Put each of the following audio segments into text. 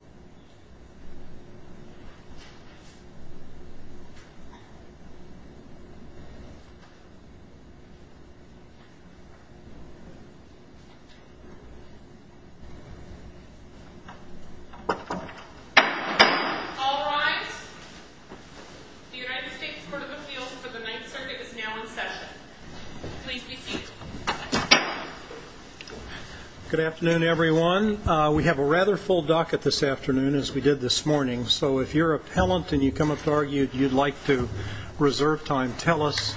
All rise. The United States Court of Appeals for the Ninth Circuit is now in session. Please be seated. Good afternoon, everyone. We have a rather full docket this afternoon, as we did this morning, so if you're appellant and you come up to argue that you'd like to reserve time, tell us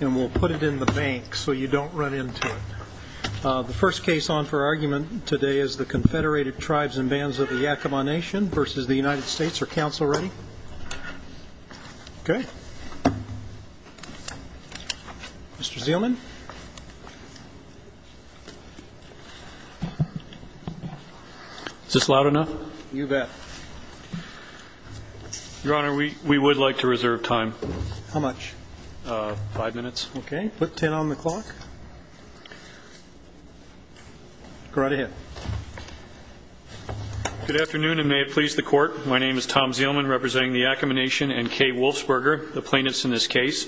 and we'll put it in the bank so you don't run into it. The first case on for argument today is the Confederated Tribes and Bands of the Yakama Nation v. the United States. Are counsel ready? Okay. Mr. Zeelman. Is this loud enough? You bet. Your honor, we would like to reserve time. How much? Five minutes. Okay. Put ten on the clock. Go right ahead. Good afternoon and may it please the court. My name is Tom Zeelman representing the Yakama Nation and Kay Wolfsberger, the plaintiffs in this case.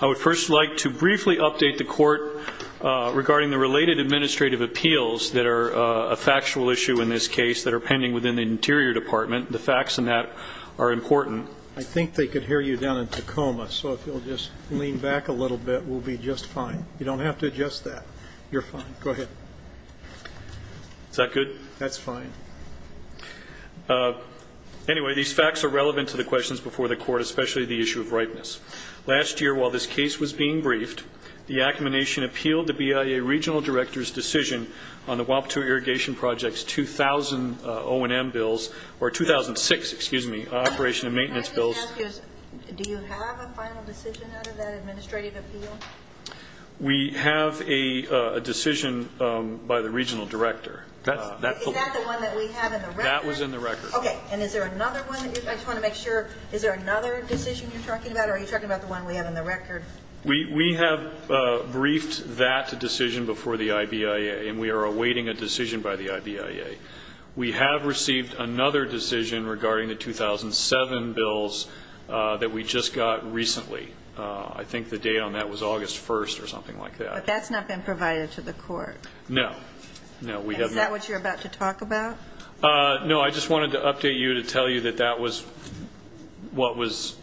I would first like to briefly update the court that the United States Court of Appeals for the Ninth Circuit has decided the court regarding the related administrative appeals that are a factual issue in this case that are pending within the Interior Department. The facts in that are important. I think they could hear you down in Tacoma, so if you'll just lean back a little bit, we'll be just fine. You don't have to adjust that. You're fine. Go ahead. Is that good? That's fine. Anyway, these facts are relevant to the questions before the court, especially the issue of whether the Yakama Nation appealed the BIA Regional Director's decision on the Guadalupe Irrigation Project's 2006 operation and maintenance bills. Can I just ask you, do you have a final decision out of that administrative appeal? We have a decision by the Regional Director. Is that the one that we have in the record? That was in the record. Okay. And is there another one? I just want to make sure. Is there another decision you're talking about or are you talking about the one we have in the record? We have briefed that decision before the IBIA, and we are awaiting a decision by the IBIA. We have received another decision regarding the 2007 bills that we just got recently. I think the date on that was August 1st or something like that. But that's not been provided to the court. No. And is that what you're about to talk about? No, I just wanted to update you to tell you that that was what was,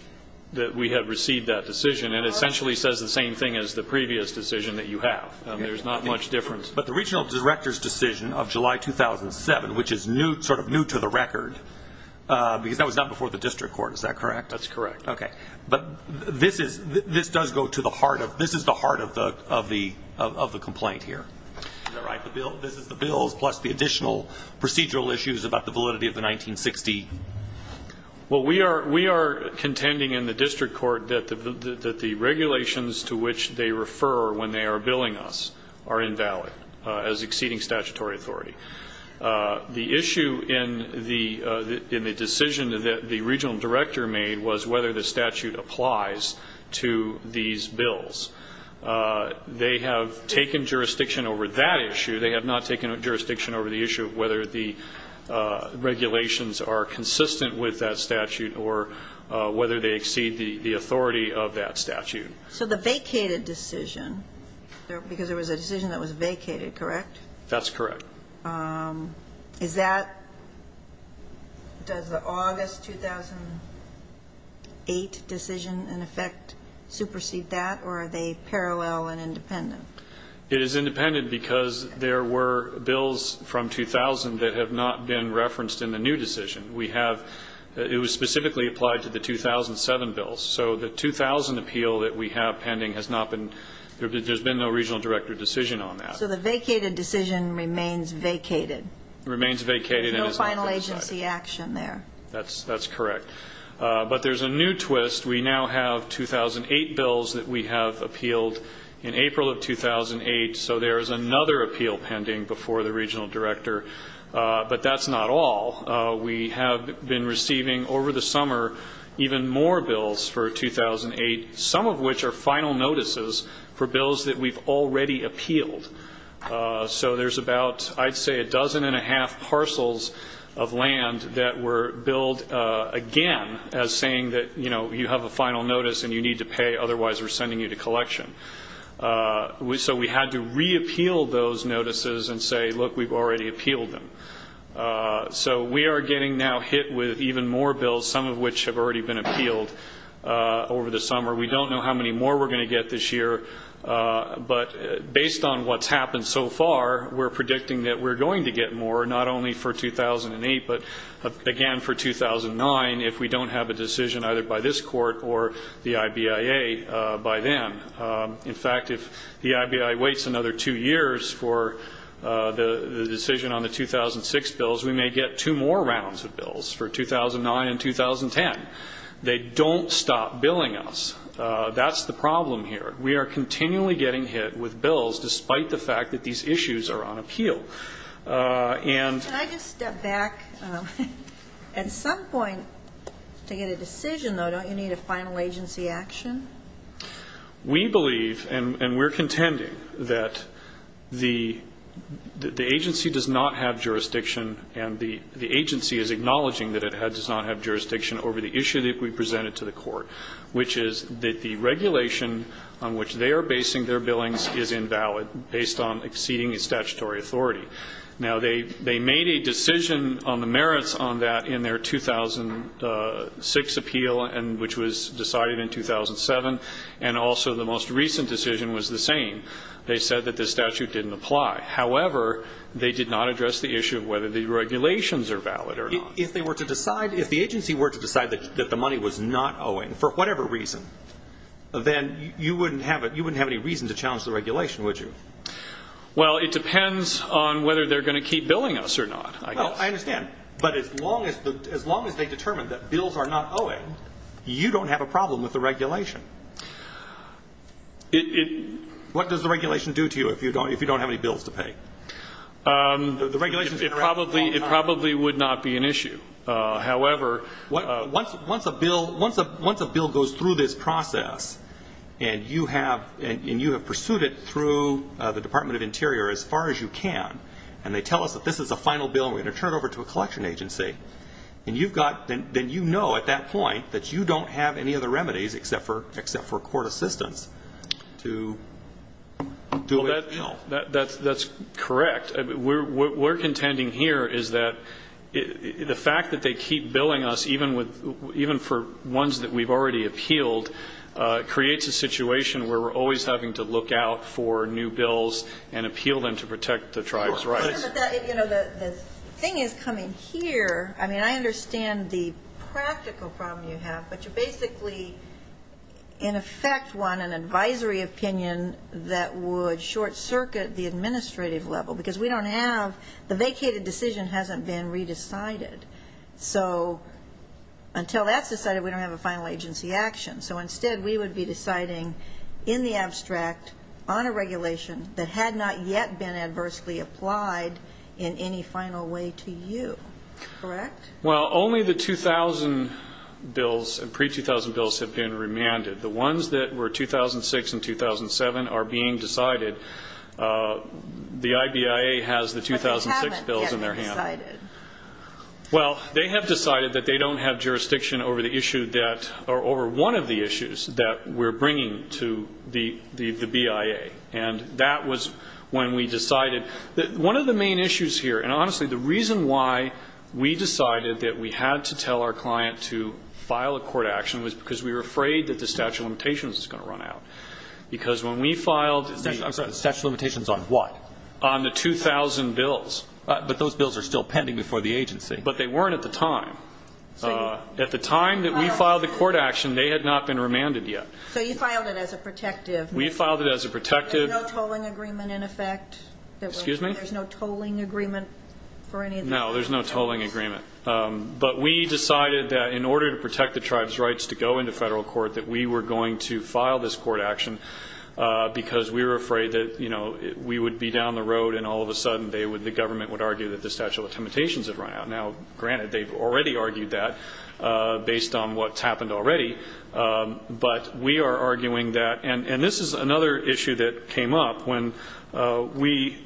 that we had received that decision. It essentially says the same thing as the previous decision that you have. There's not much difference. But the Regional Director's decision of July 2007, which is new, sort of new to the record, because that was not before the district court, is that correct? That's correct. Okay. But this is, this does go to the heart of, this is the heart of the complaint here. Is that right? This is the Well, we are contending in the district court that the regulations to which they refer when they are billing us are invalid as exceeding statutory authority. The issue in the decision that the Regional Director made was whether the statute applies to these bills. They have taken jurisdiction over that issue. They have not taken jurisdiction over the issue of whether the regulations are consistent with that statute or whether they exceed the authority of that statute. So the vacated decision, because there was a decision that was vacated, correct? That's correct. Is that, does the August 2008 decision, in effect, supersede that? Or are they parallel and independent? It is independent because there were bills from 2000 that have not been referenced in the new decision. We have, it was specifically applied to the 2007 bills. So the 2000 appeal that we have pending has not been, there's been no Regional Director decision on that. So the vacated decision remains vacated. Remains vacated and is not compensated. No final agency action there. That's correct. But there's a new twist. We now have 2008 bills that we have appealed in April of 2008. So there is another appeal pending before the Regional Director. But that's not all. We have been receiving, over the summer, even more bills for 2008, some of which are final notices for bills that we've already appealed. So there's about, I'd say a dozen and a half parcels of land that were billed again as saying that, you know, you have a final notice and you need to pay, otherwise we're sending you to collection. So we had to re-appeal those notices and say, look, we've already appealed them. So we are getting now hit with even more bills, some of which have already been appealed over the summer. We don't know how many more we're going to get this year. But based on what's happened so far, we're predicting that we're going to get more, not only for 2008, but again for 2009, if we don't have a decision either by this Court or the IBIA by then. In fact, if the IBI waits another two years for the decision on the 2006 bills, we may get two more rounds of bills for 2009 and 2010. They don't stop billing us. That's the problem here. We are continually getting hit with bills, despite the fact that these issues are on appeal. And Can I just step back? At some point, to get a decision, though, don't you need a final agency action? We believe, and we're contending, that the agency does not have jurisdiction and the agency is acknowledging that it does not have jurisdiction over the issue that we presented to the Court, which is that the regulation on which they are basing their authority. Now, they made a decision on the merits on that in their 2006 appeal, which was decided in 2007, and also the most recent decision was the same. They said that the statute didn't apply. However, they did not address the issue of whether the regulations are valid or not. If they were to decide, if the agency were to decide that the money was not owing, for whatever reason, then you wouldn't have any reason to challenge the regulation, would you? Well, it depends on whether they're going to keep billing us or not, I guess. Well, I understand. But as long as they determine that bills are not owing, you don't have a problem with the regulation. What does the regulation do to you if you don't have any bills to pay? Once a bill goes through this process and you have pursued it through the Department of Interior as far as you can, and they tell us that this is a final bill and we're going to turn it over to a collection agency, then you know at that point that you don't have any other remedies except for court assistance to do away with the bill. Well, that's correct. What we're contending here is that the fact that they keep billing us, even for ones that we've already appealed, creates a situation where we're always having to look out for new bills and appeal them to protect the tribe's rights. But the thing is coming here, I mean, I understand the practical problem you have, but you basically, in effect, want an advisory opinion that would short-circuit the administrative level because we don't have the vacated decision hasn't been re-decided. So until that's decided, we don't have a final agency action. So instead, we would be deciding in the abstract on a regulation that had not yet been adversely applied in any final way to you. Correct? Well, only the 2000 bills and pre-2000 bills have been remanded. The ones that were 2006 and 2007 are being decided. The IBIA has the 2006 bills in their hands. But they haven't yet been decided. Well, they have decided that they don't have jurisdiction over the issue that, or over one of the issues that we're bringing to the BIA. And that was when we decided. One of the main issues here, and honestly, the reason why we decided that we had to tell our client to file a court action was because we were afraid that the statute of limitations was going to run out. Because when we filed the... Statute of limitations on what? On the 2000 bills. But those bills are still pending before the agency. But they weren't at the time. At the time that we filed the court action, they had not been remanded yet. So you filed it as a protective... We filed it as a protective... There's no tolling agreement in effect? Excuse me? There's no tolling agreement for any of the... No, there's no tolling agreement. But we decided that in order to protect the tribe's rights to go into federal court, that we were going to file this court action because we were afraid that we would be down the road and all of a sudden the government would argue that the statute of limitations had run out. Now, granted, they've already argued that based on what's happened already. But we are arguing that, and this is another issue that came up when we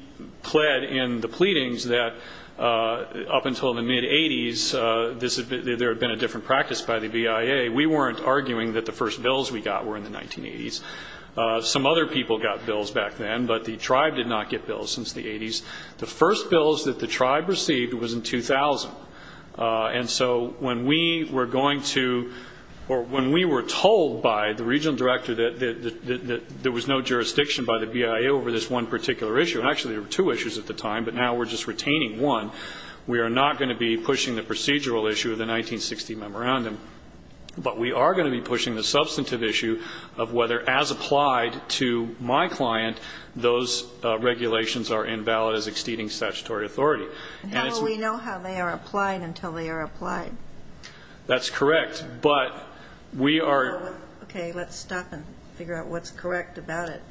pled in the pleadings that up until the mid-80s, there had been a different practice by the BIA. We weren't arguing that the first bills we got were in the 1980s. Some other people got bills back then, but the tribe did not get bills since the 80s. The first bills that the tribe received was in 2000. And so when we were going to... Or when we were told by the regional director that there was no jurisdiction by the BIA over this one particular issue, and actually there were two issues at the time, but now we're just retaining one, we are not going to be pushing the procedural issue of the 1960 memorandum. But we are going to be pushing the substantive issue of whether, as applied to my client, those regulations are invalid as exceeding statutory authority. That's correct, but we are... Okay, let's stop and figure out what's correct about it.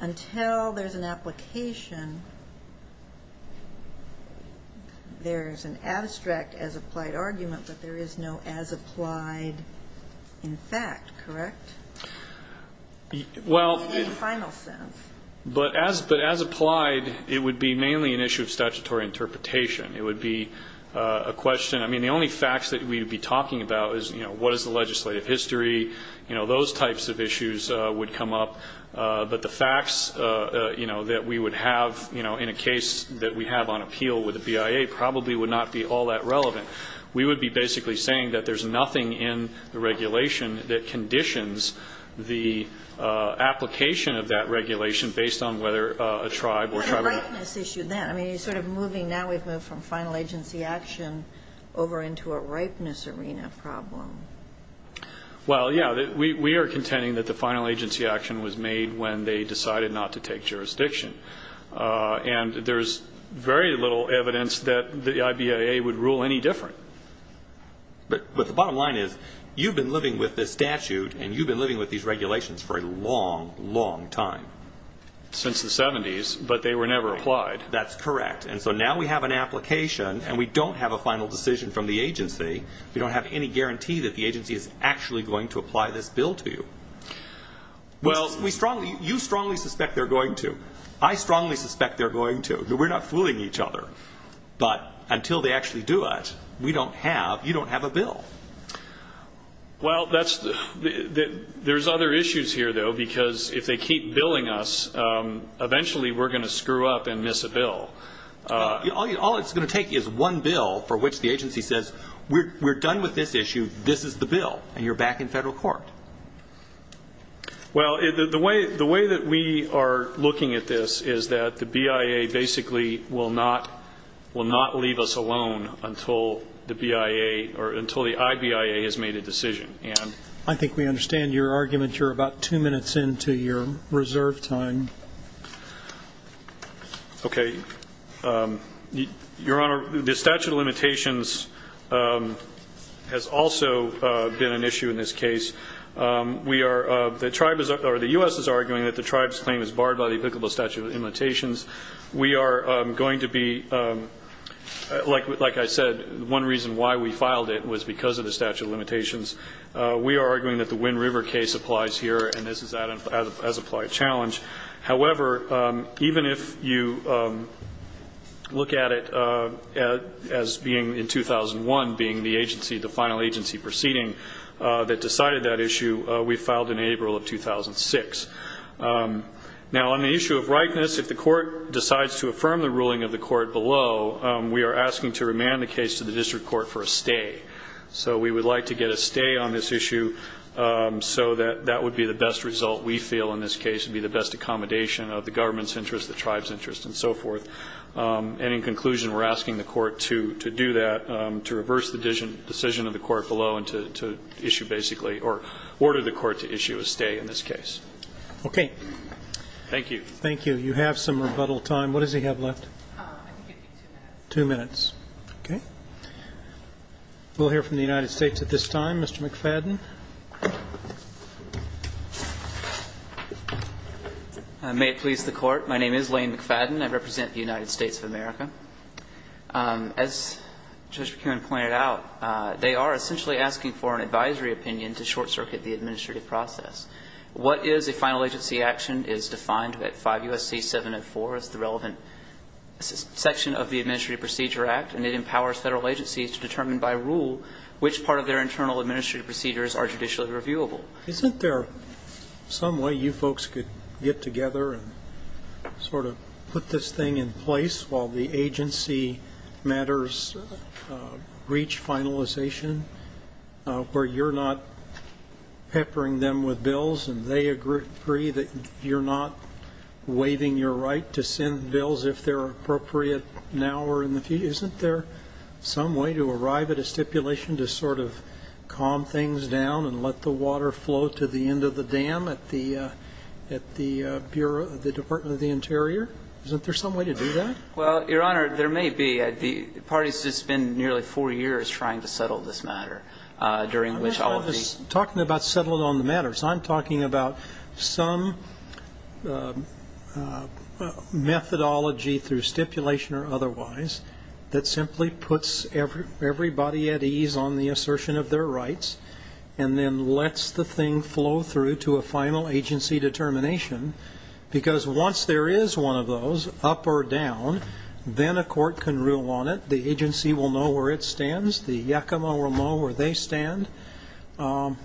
Until there's an application, there's an abstract as applied argument, but there is no as applied in fact, correct? Well... In the final sense. But as applied, it would be mainly an issue of statutory interpretation. It would be a question. I mean, the only facts that we would be talking about is, you know, what is the legislative history? You know, those types of issues would come up. But the facts, you know, that we would have, you know, in a case that we have on appeal with the BIA probably would not be all that relevant. We would be basically saying that there's nothing in the regulation that conditions the application of that regulation based on whether a tribe or tribe... It's a ripeness issue then. I mean, you're sort of moving now, we've moved from final agency action over into a ripeness arena problem. Well, yeah. We are contending that the final agency action was made when they decided not to take jurisdiction. And there's very little evidence that the IBAA would rule any different. But the bottom line is, you've been living with this statute and you've been living with these regulations for a long, long time. Since the 70s, but they were never applied. That's correct. And so now we have an application and we don't have a final decision from the agency. We don't have any guarantee that the agency is actually going to apply this bill to you. Well... You strongly suspect they're going to. I strongly suspect they're going to. We're not fooling each other. But until they actually do it, we don't have... You don't have a bill. Well, there's other issues here, though, because if they keep billing us, eventually we're going to screw up and miss a bill. All it's going to take is one bill for which the agency says, we're done with this issue, this is the bill, and you're back in federal court. Well, the way that we are looking at this is that the BIA basically will not leave us alone until the BIA or until the IBIA has made a decision. I think we understand your argument. You're about two minutes into your reserve time. Okay. Your Honor, the statute of limitations has also been an issue in this case. The U.S. is arguing that the tribe's claim is barred by the applicable statute of limitations. We are going to be, like I said, one reason why we filed it was because of the statute of limitations. We are arguing that the Wind River case applies here, and this is an as-applied challenge. However, even if you look at it as being in 2001, being the agency, the final agency proceeding that decided that issue, we filed in April of 2006. Now, on the issue of rightness, if the court decides to affirm the ruling of the court below, we are asking to remand the case to the district court for a stay. So we would like to get a stay on this issue so that that would be the best result, we feel in this case, would be the best accommodation of the government's interest, the tribe's interest, and so forth. And in conclusion, we're asking the court to do that, to reverse the decision of the court below and to issue basically or order the court to issue a stay in this case. Okay. Thank you. Thank you. You have some rebuttal time. What does he have left? Two minutes. Okay. We'll hear from the United States at this time. Mr. McFadden. May it please the Court. My name is Lane McFadden. I represent the United States of America. As Judge McKeown pointed out, they are essentially asking for an advisory opinion to short-circuit the administrative process. What is a final agency action is defined at 5 U.S.C. 704 as the relevant section of the Administrative Procedure Act, and it empowers Federal agencies to determine by rule which part of their internal administrative procedures are judicially reviewable. Isn't there some way you folks could get together and sort of put this thing in place while the agency matters reach finalization where you're not peppering them with bills and they agree that you're not waiving your right to send bills if they're appropriate now or in the future? Isn't there some way to arrive at a stipulation to sort of calm things down and let the water flow to the end of the dam at the Bureau of the Department of the Interior? Isn't there some way to do that? Well, Your Honor, there may be. The parties have just been nearly four years trying to settle this matter during which all of these I'm not talking about settling on the matter. I'm talking about some methodology through stipulation or otherwise that simply puts everybody at ease on the assertion of their rights and then lets the thing flow through to a final agency because once there is one of those up or down, then a court can rule on it. The agency will know where it stands. The Yakima will know where they stand. Why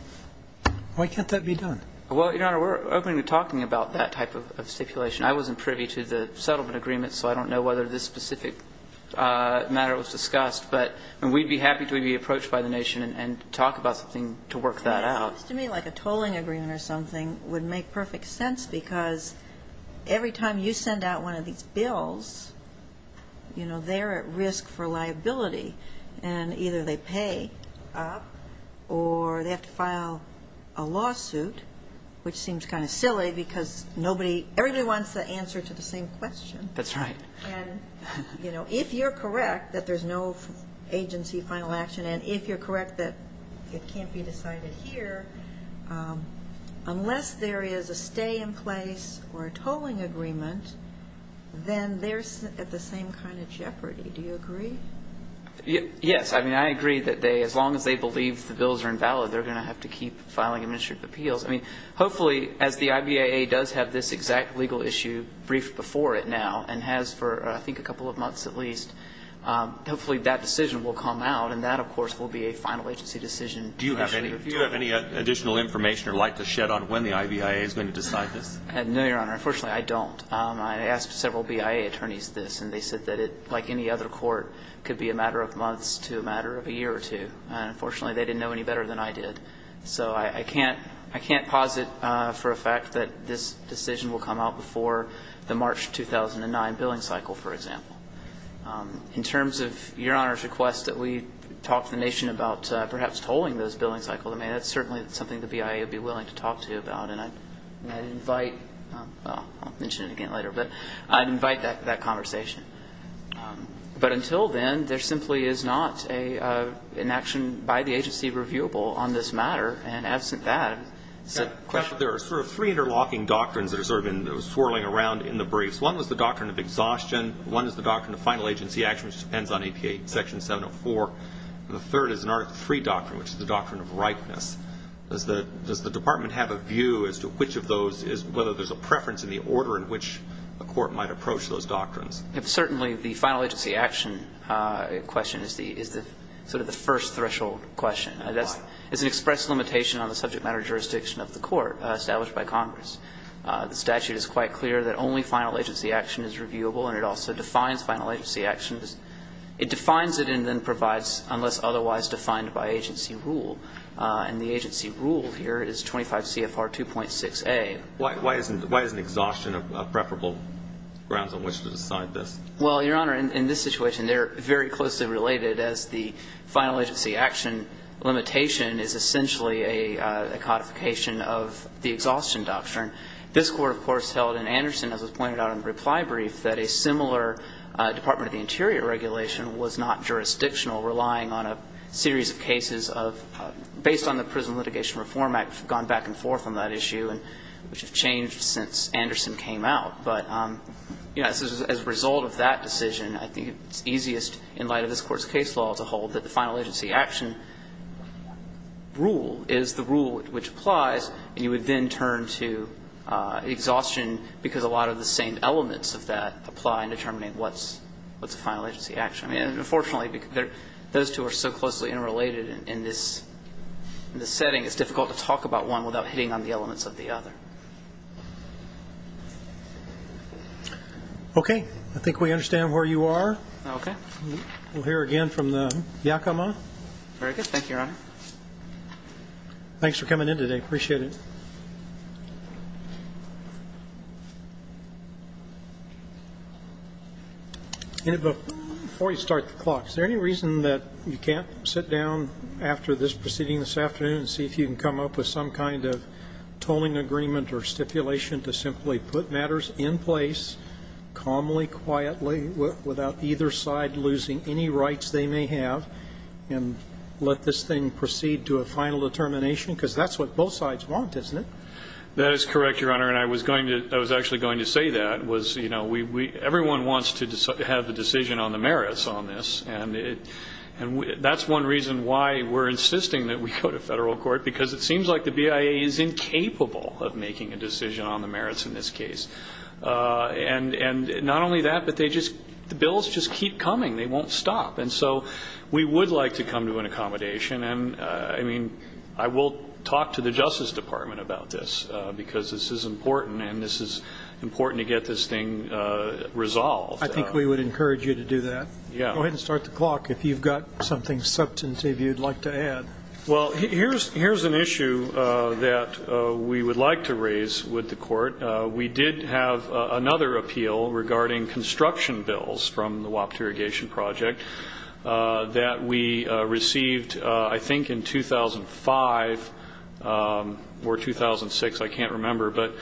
can't that be done? Well, Your Honor, we're open to talking about that type of stipulation. I wasn't privy to the settlement agreement, so I don't know whether this specific matter was discussed. But we'd be happy to be approached by the nation and talk about something to work that out. Well, it seems to me like a tolling agreement or something would make perfect sense because every time you send out one of these bills, you know, they're at risk for liability and either they pay up or they have to file a lawsuit, which seems kind of silly because everybody wants the answer to the same question. That's right. And, you know, if you're correct that there's no agency final action and if you're correct that it can't be decided here, unless there is a stay-in-place or a tolling agreement, then they're at the same kind of jeopardy. Do you agree? Yes. I mean, I agree that as long as they believe the bills are invalid, they're going to have to keep filing administrative appeals. I mean, hopefully as the IBAA does have this exact legal issue briefed before it now and has for I think a couple of months at least, hopefully that decision will come out and that, of course, will be a final agency decision. Do you have any additional information or light to shed on when the IBAA is going to decide this? No, Your Honor. Unfortunately, I don't. I asked several BIA attorneys this and they said that it, like any other court, could be a matter of months to a matter of a year or two. Unfortunately, they didn't know any better than I did. So I can't posit for a fact that this decision will come out before the March 2009 billing cycle, for example. In terms of Your Honor's request that we talk to the nation about perhaps tolling those billing cycles, I mean, that's certainly something the BIA would be willing to talk to you about. And I'd invite, well, I'll mention it again later, but I'd invite that conversation. But until then, there simply is not an action by the agency reviewable on this matter. And absent that, it's a question. There are sort of three interlocking doctrines that are sort of swirling around in the briefs. One was the doctrine of exhaustion. One is the doctrine of final agency action, which depends on APA Section 704. And the third is an Article III doctrine, which is the doctrine of ripeness. Does the Department have a view as to which of those is whether there's a preference in the order in which a court might approach those doctrines? Certainly, the final agency action question is the sort of the first threshold question. Why? It's an express limitation on the subject matter jurisdiction of the court established by Congress. The statute is quite clear that only final agency action is reviewable, and it also defines final agency actions. It defines it and then provides unless otherwise defined by agency rule. And the agency rule here is 25 CFR 2.6a. Why isn't exhaustion a preferable grounds on which to decide this? Well, Your Honor, in this situation, they're very closely related, as the final agency action limitation is essentially a codification of the exhaustion doctrine. This Court, of course, held in Anderson, as was pointed out in the reply brief, that a similar Department of the Interior regulation was not jurisdictional, relying on a series of cases of, based on the Prison Litigation Reform Act, gone back and forth on that issue, which have changed since Anderson came out. But, you know, as a result of that decision, I think it's easiest in light of this that the final agency action rule is the rule which applies, and you would then turn to exhaustion because a lot of the same elements of that apply in determining what's a final agency action. I mean, unfortunately, those two are so closely interrelated in this setting, it's difficult to talk about one without hitting on the elements of the other. Okay. I think we understand where you are. Okay. We'll hear again from the Yakima. Very good. Thank you, Your Honor. Thanks for coming in today. Appreciate it. Before you start the clock, is there any reason that you can't sit down after this proceeding this afternoon and see if you can come up with some kind of tolling agreement or stipulation to simply put matters in place calmly, quietly, without either side losing any rights they may have, and let this thing proceed to a final determination? Because that's what both sides want, isn't it? That is correct, Your Honor, and I was actually going to say that. Everyone wants to have a decision on the merits on this, and that's one reason why we're insisting that we go to federal court, because it seems like the BIA is incapable of making a decision on the merits in this case. And not only that, but the bills just keep coming. They won't stop. And so we would like to come to an accommodation. And, I mean, I will talk to the Justice Department about this, because this is important and this is important to get this thing resolved. I think we would encourage you to do that. Yeah. Go ahead and start the clock if you've got something substantive you'd like to Well, here's an issue that we would like to raise with the court. We did have another appeal regarding construction bills from the WAPT irrigation project that we received, I think, in 2005 or 2006. I can't remember. But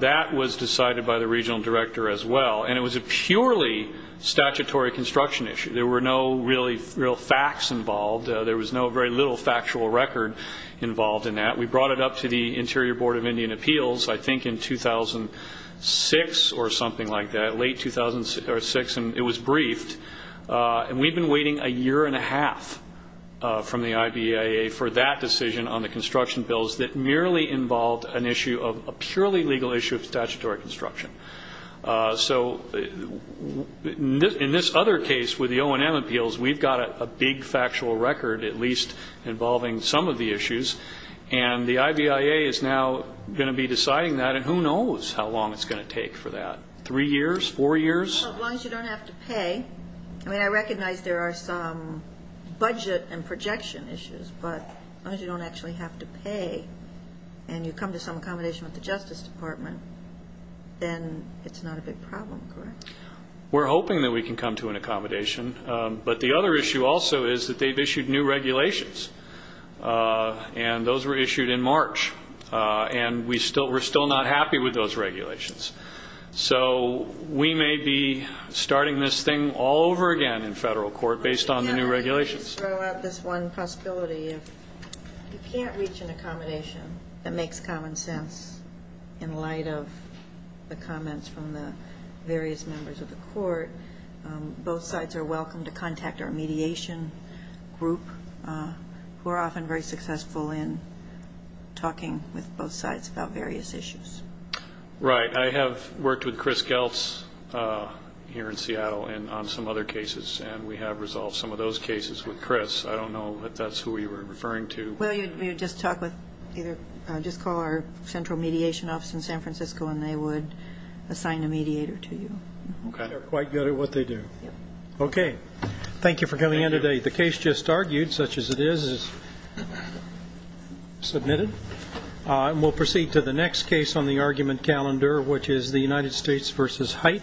that was decided by the regional director as well, and it was a purely statutory construction issue. There were no real facts involved. There was very little factual record involved in that. We brought it up to the Interior Board of Indian Appeals, I think, in 2006 or something like that, late 2006, and it was briefed. And we've been waiting a year and a half from the IBIA for that decision on the construction bills that merely involved an issue of a purely legal issue of statutory construction. So in this other case with the O&M appeals, we've got a big factual record, at least involving some of the issues. And the IBIA is now going to be deciding that, and who knows how long it's going to take for that, three years, four years? Well, as long as you don't have to pay. I mean, I recognize there are some budget and projection issues, but as long as you don't actually have to pay and you come to some accommodation with the Justice Department, then it's not a big problem, correct? We're hoping that we can come to an accommodation. But the other issue also is that they've issued new regulations, and those were issued in March. And we're still not happy with those regulations. So we may be starting this thing all over again in federal court based on the new regulations. Let me just throw out this one possibility. If you can't reach an accommodation that makes common sense in light of the comments from the various members of the court, both sides are welcome to contact our mediation group. We're often very successful in talking with both sides about various issues. Right. I have worked with Chris Geltz here in Seattle on some other cases, and we have resolved some of those cases with Chris. I don't know if that's who you were referring to. Well, you'd just talk with either or just call our central mediation office in San Francisco, and they would assign a mediator to you. They're quite good at what they do. Okay. Thank you for coming in today. The case just argued, such as it is, is submitted. We'll proceed to the next case on the argument calendar, which is the United States v. Haidt.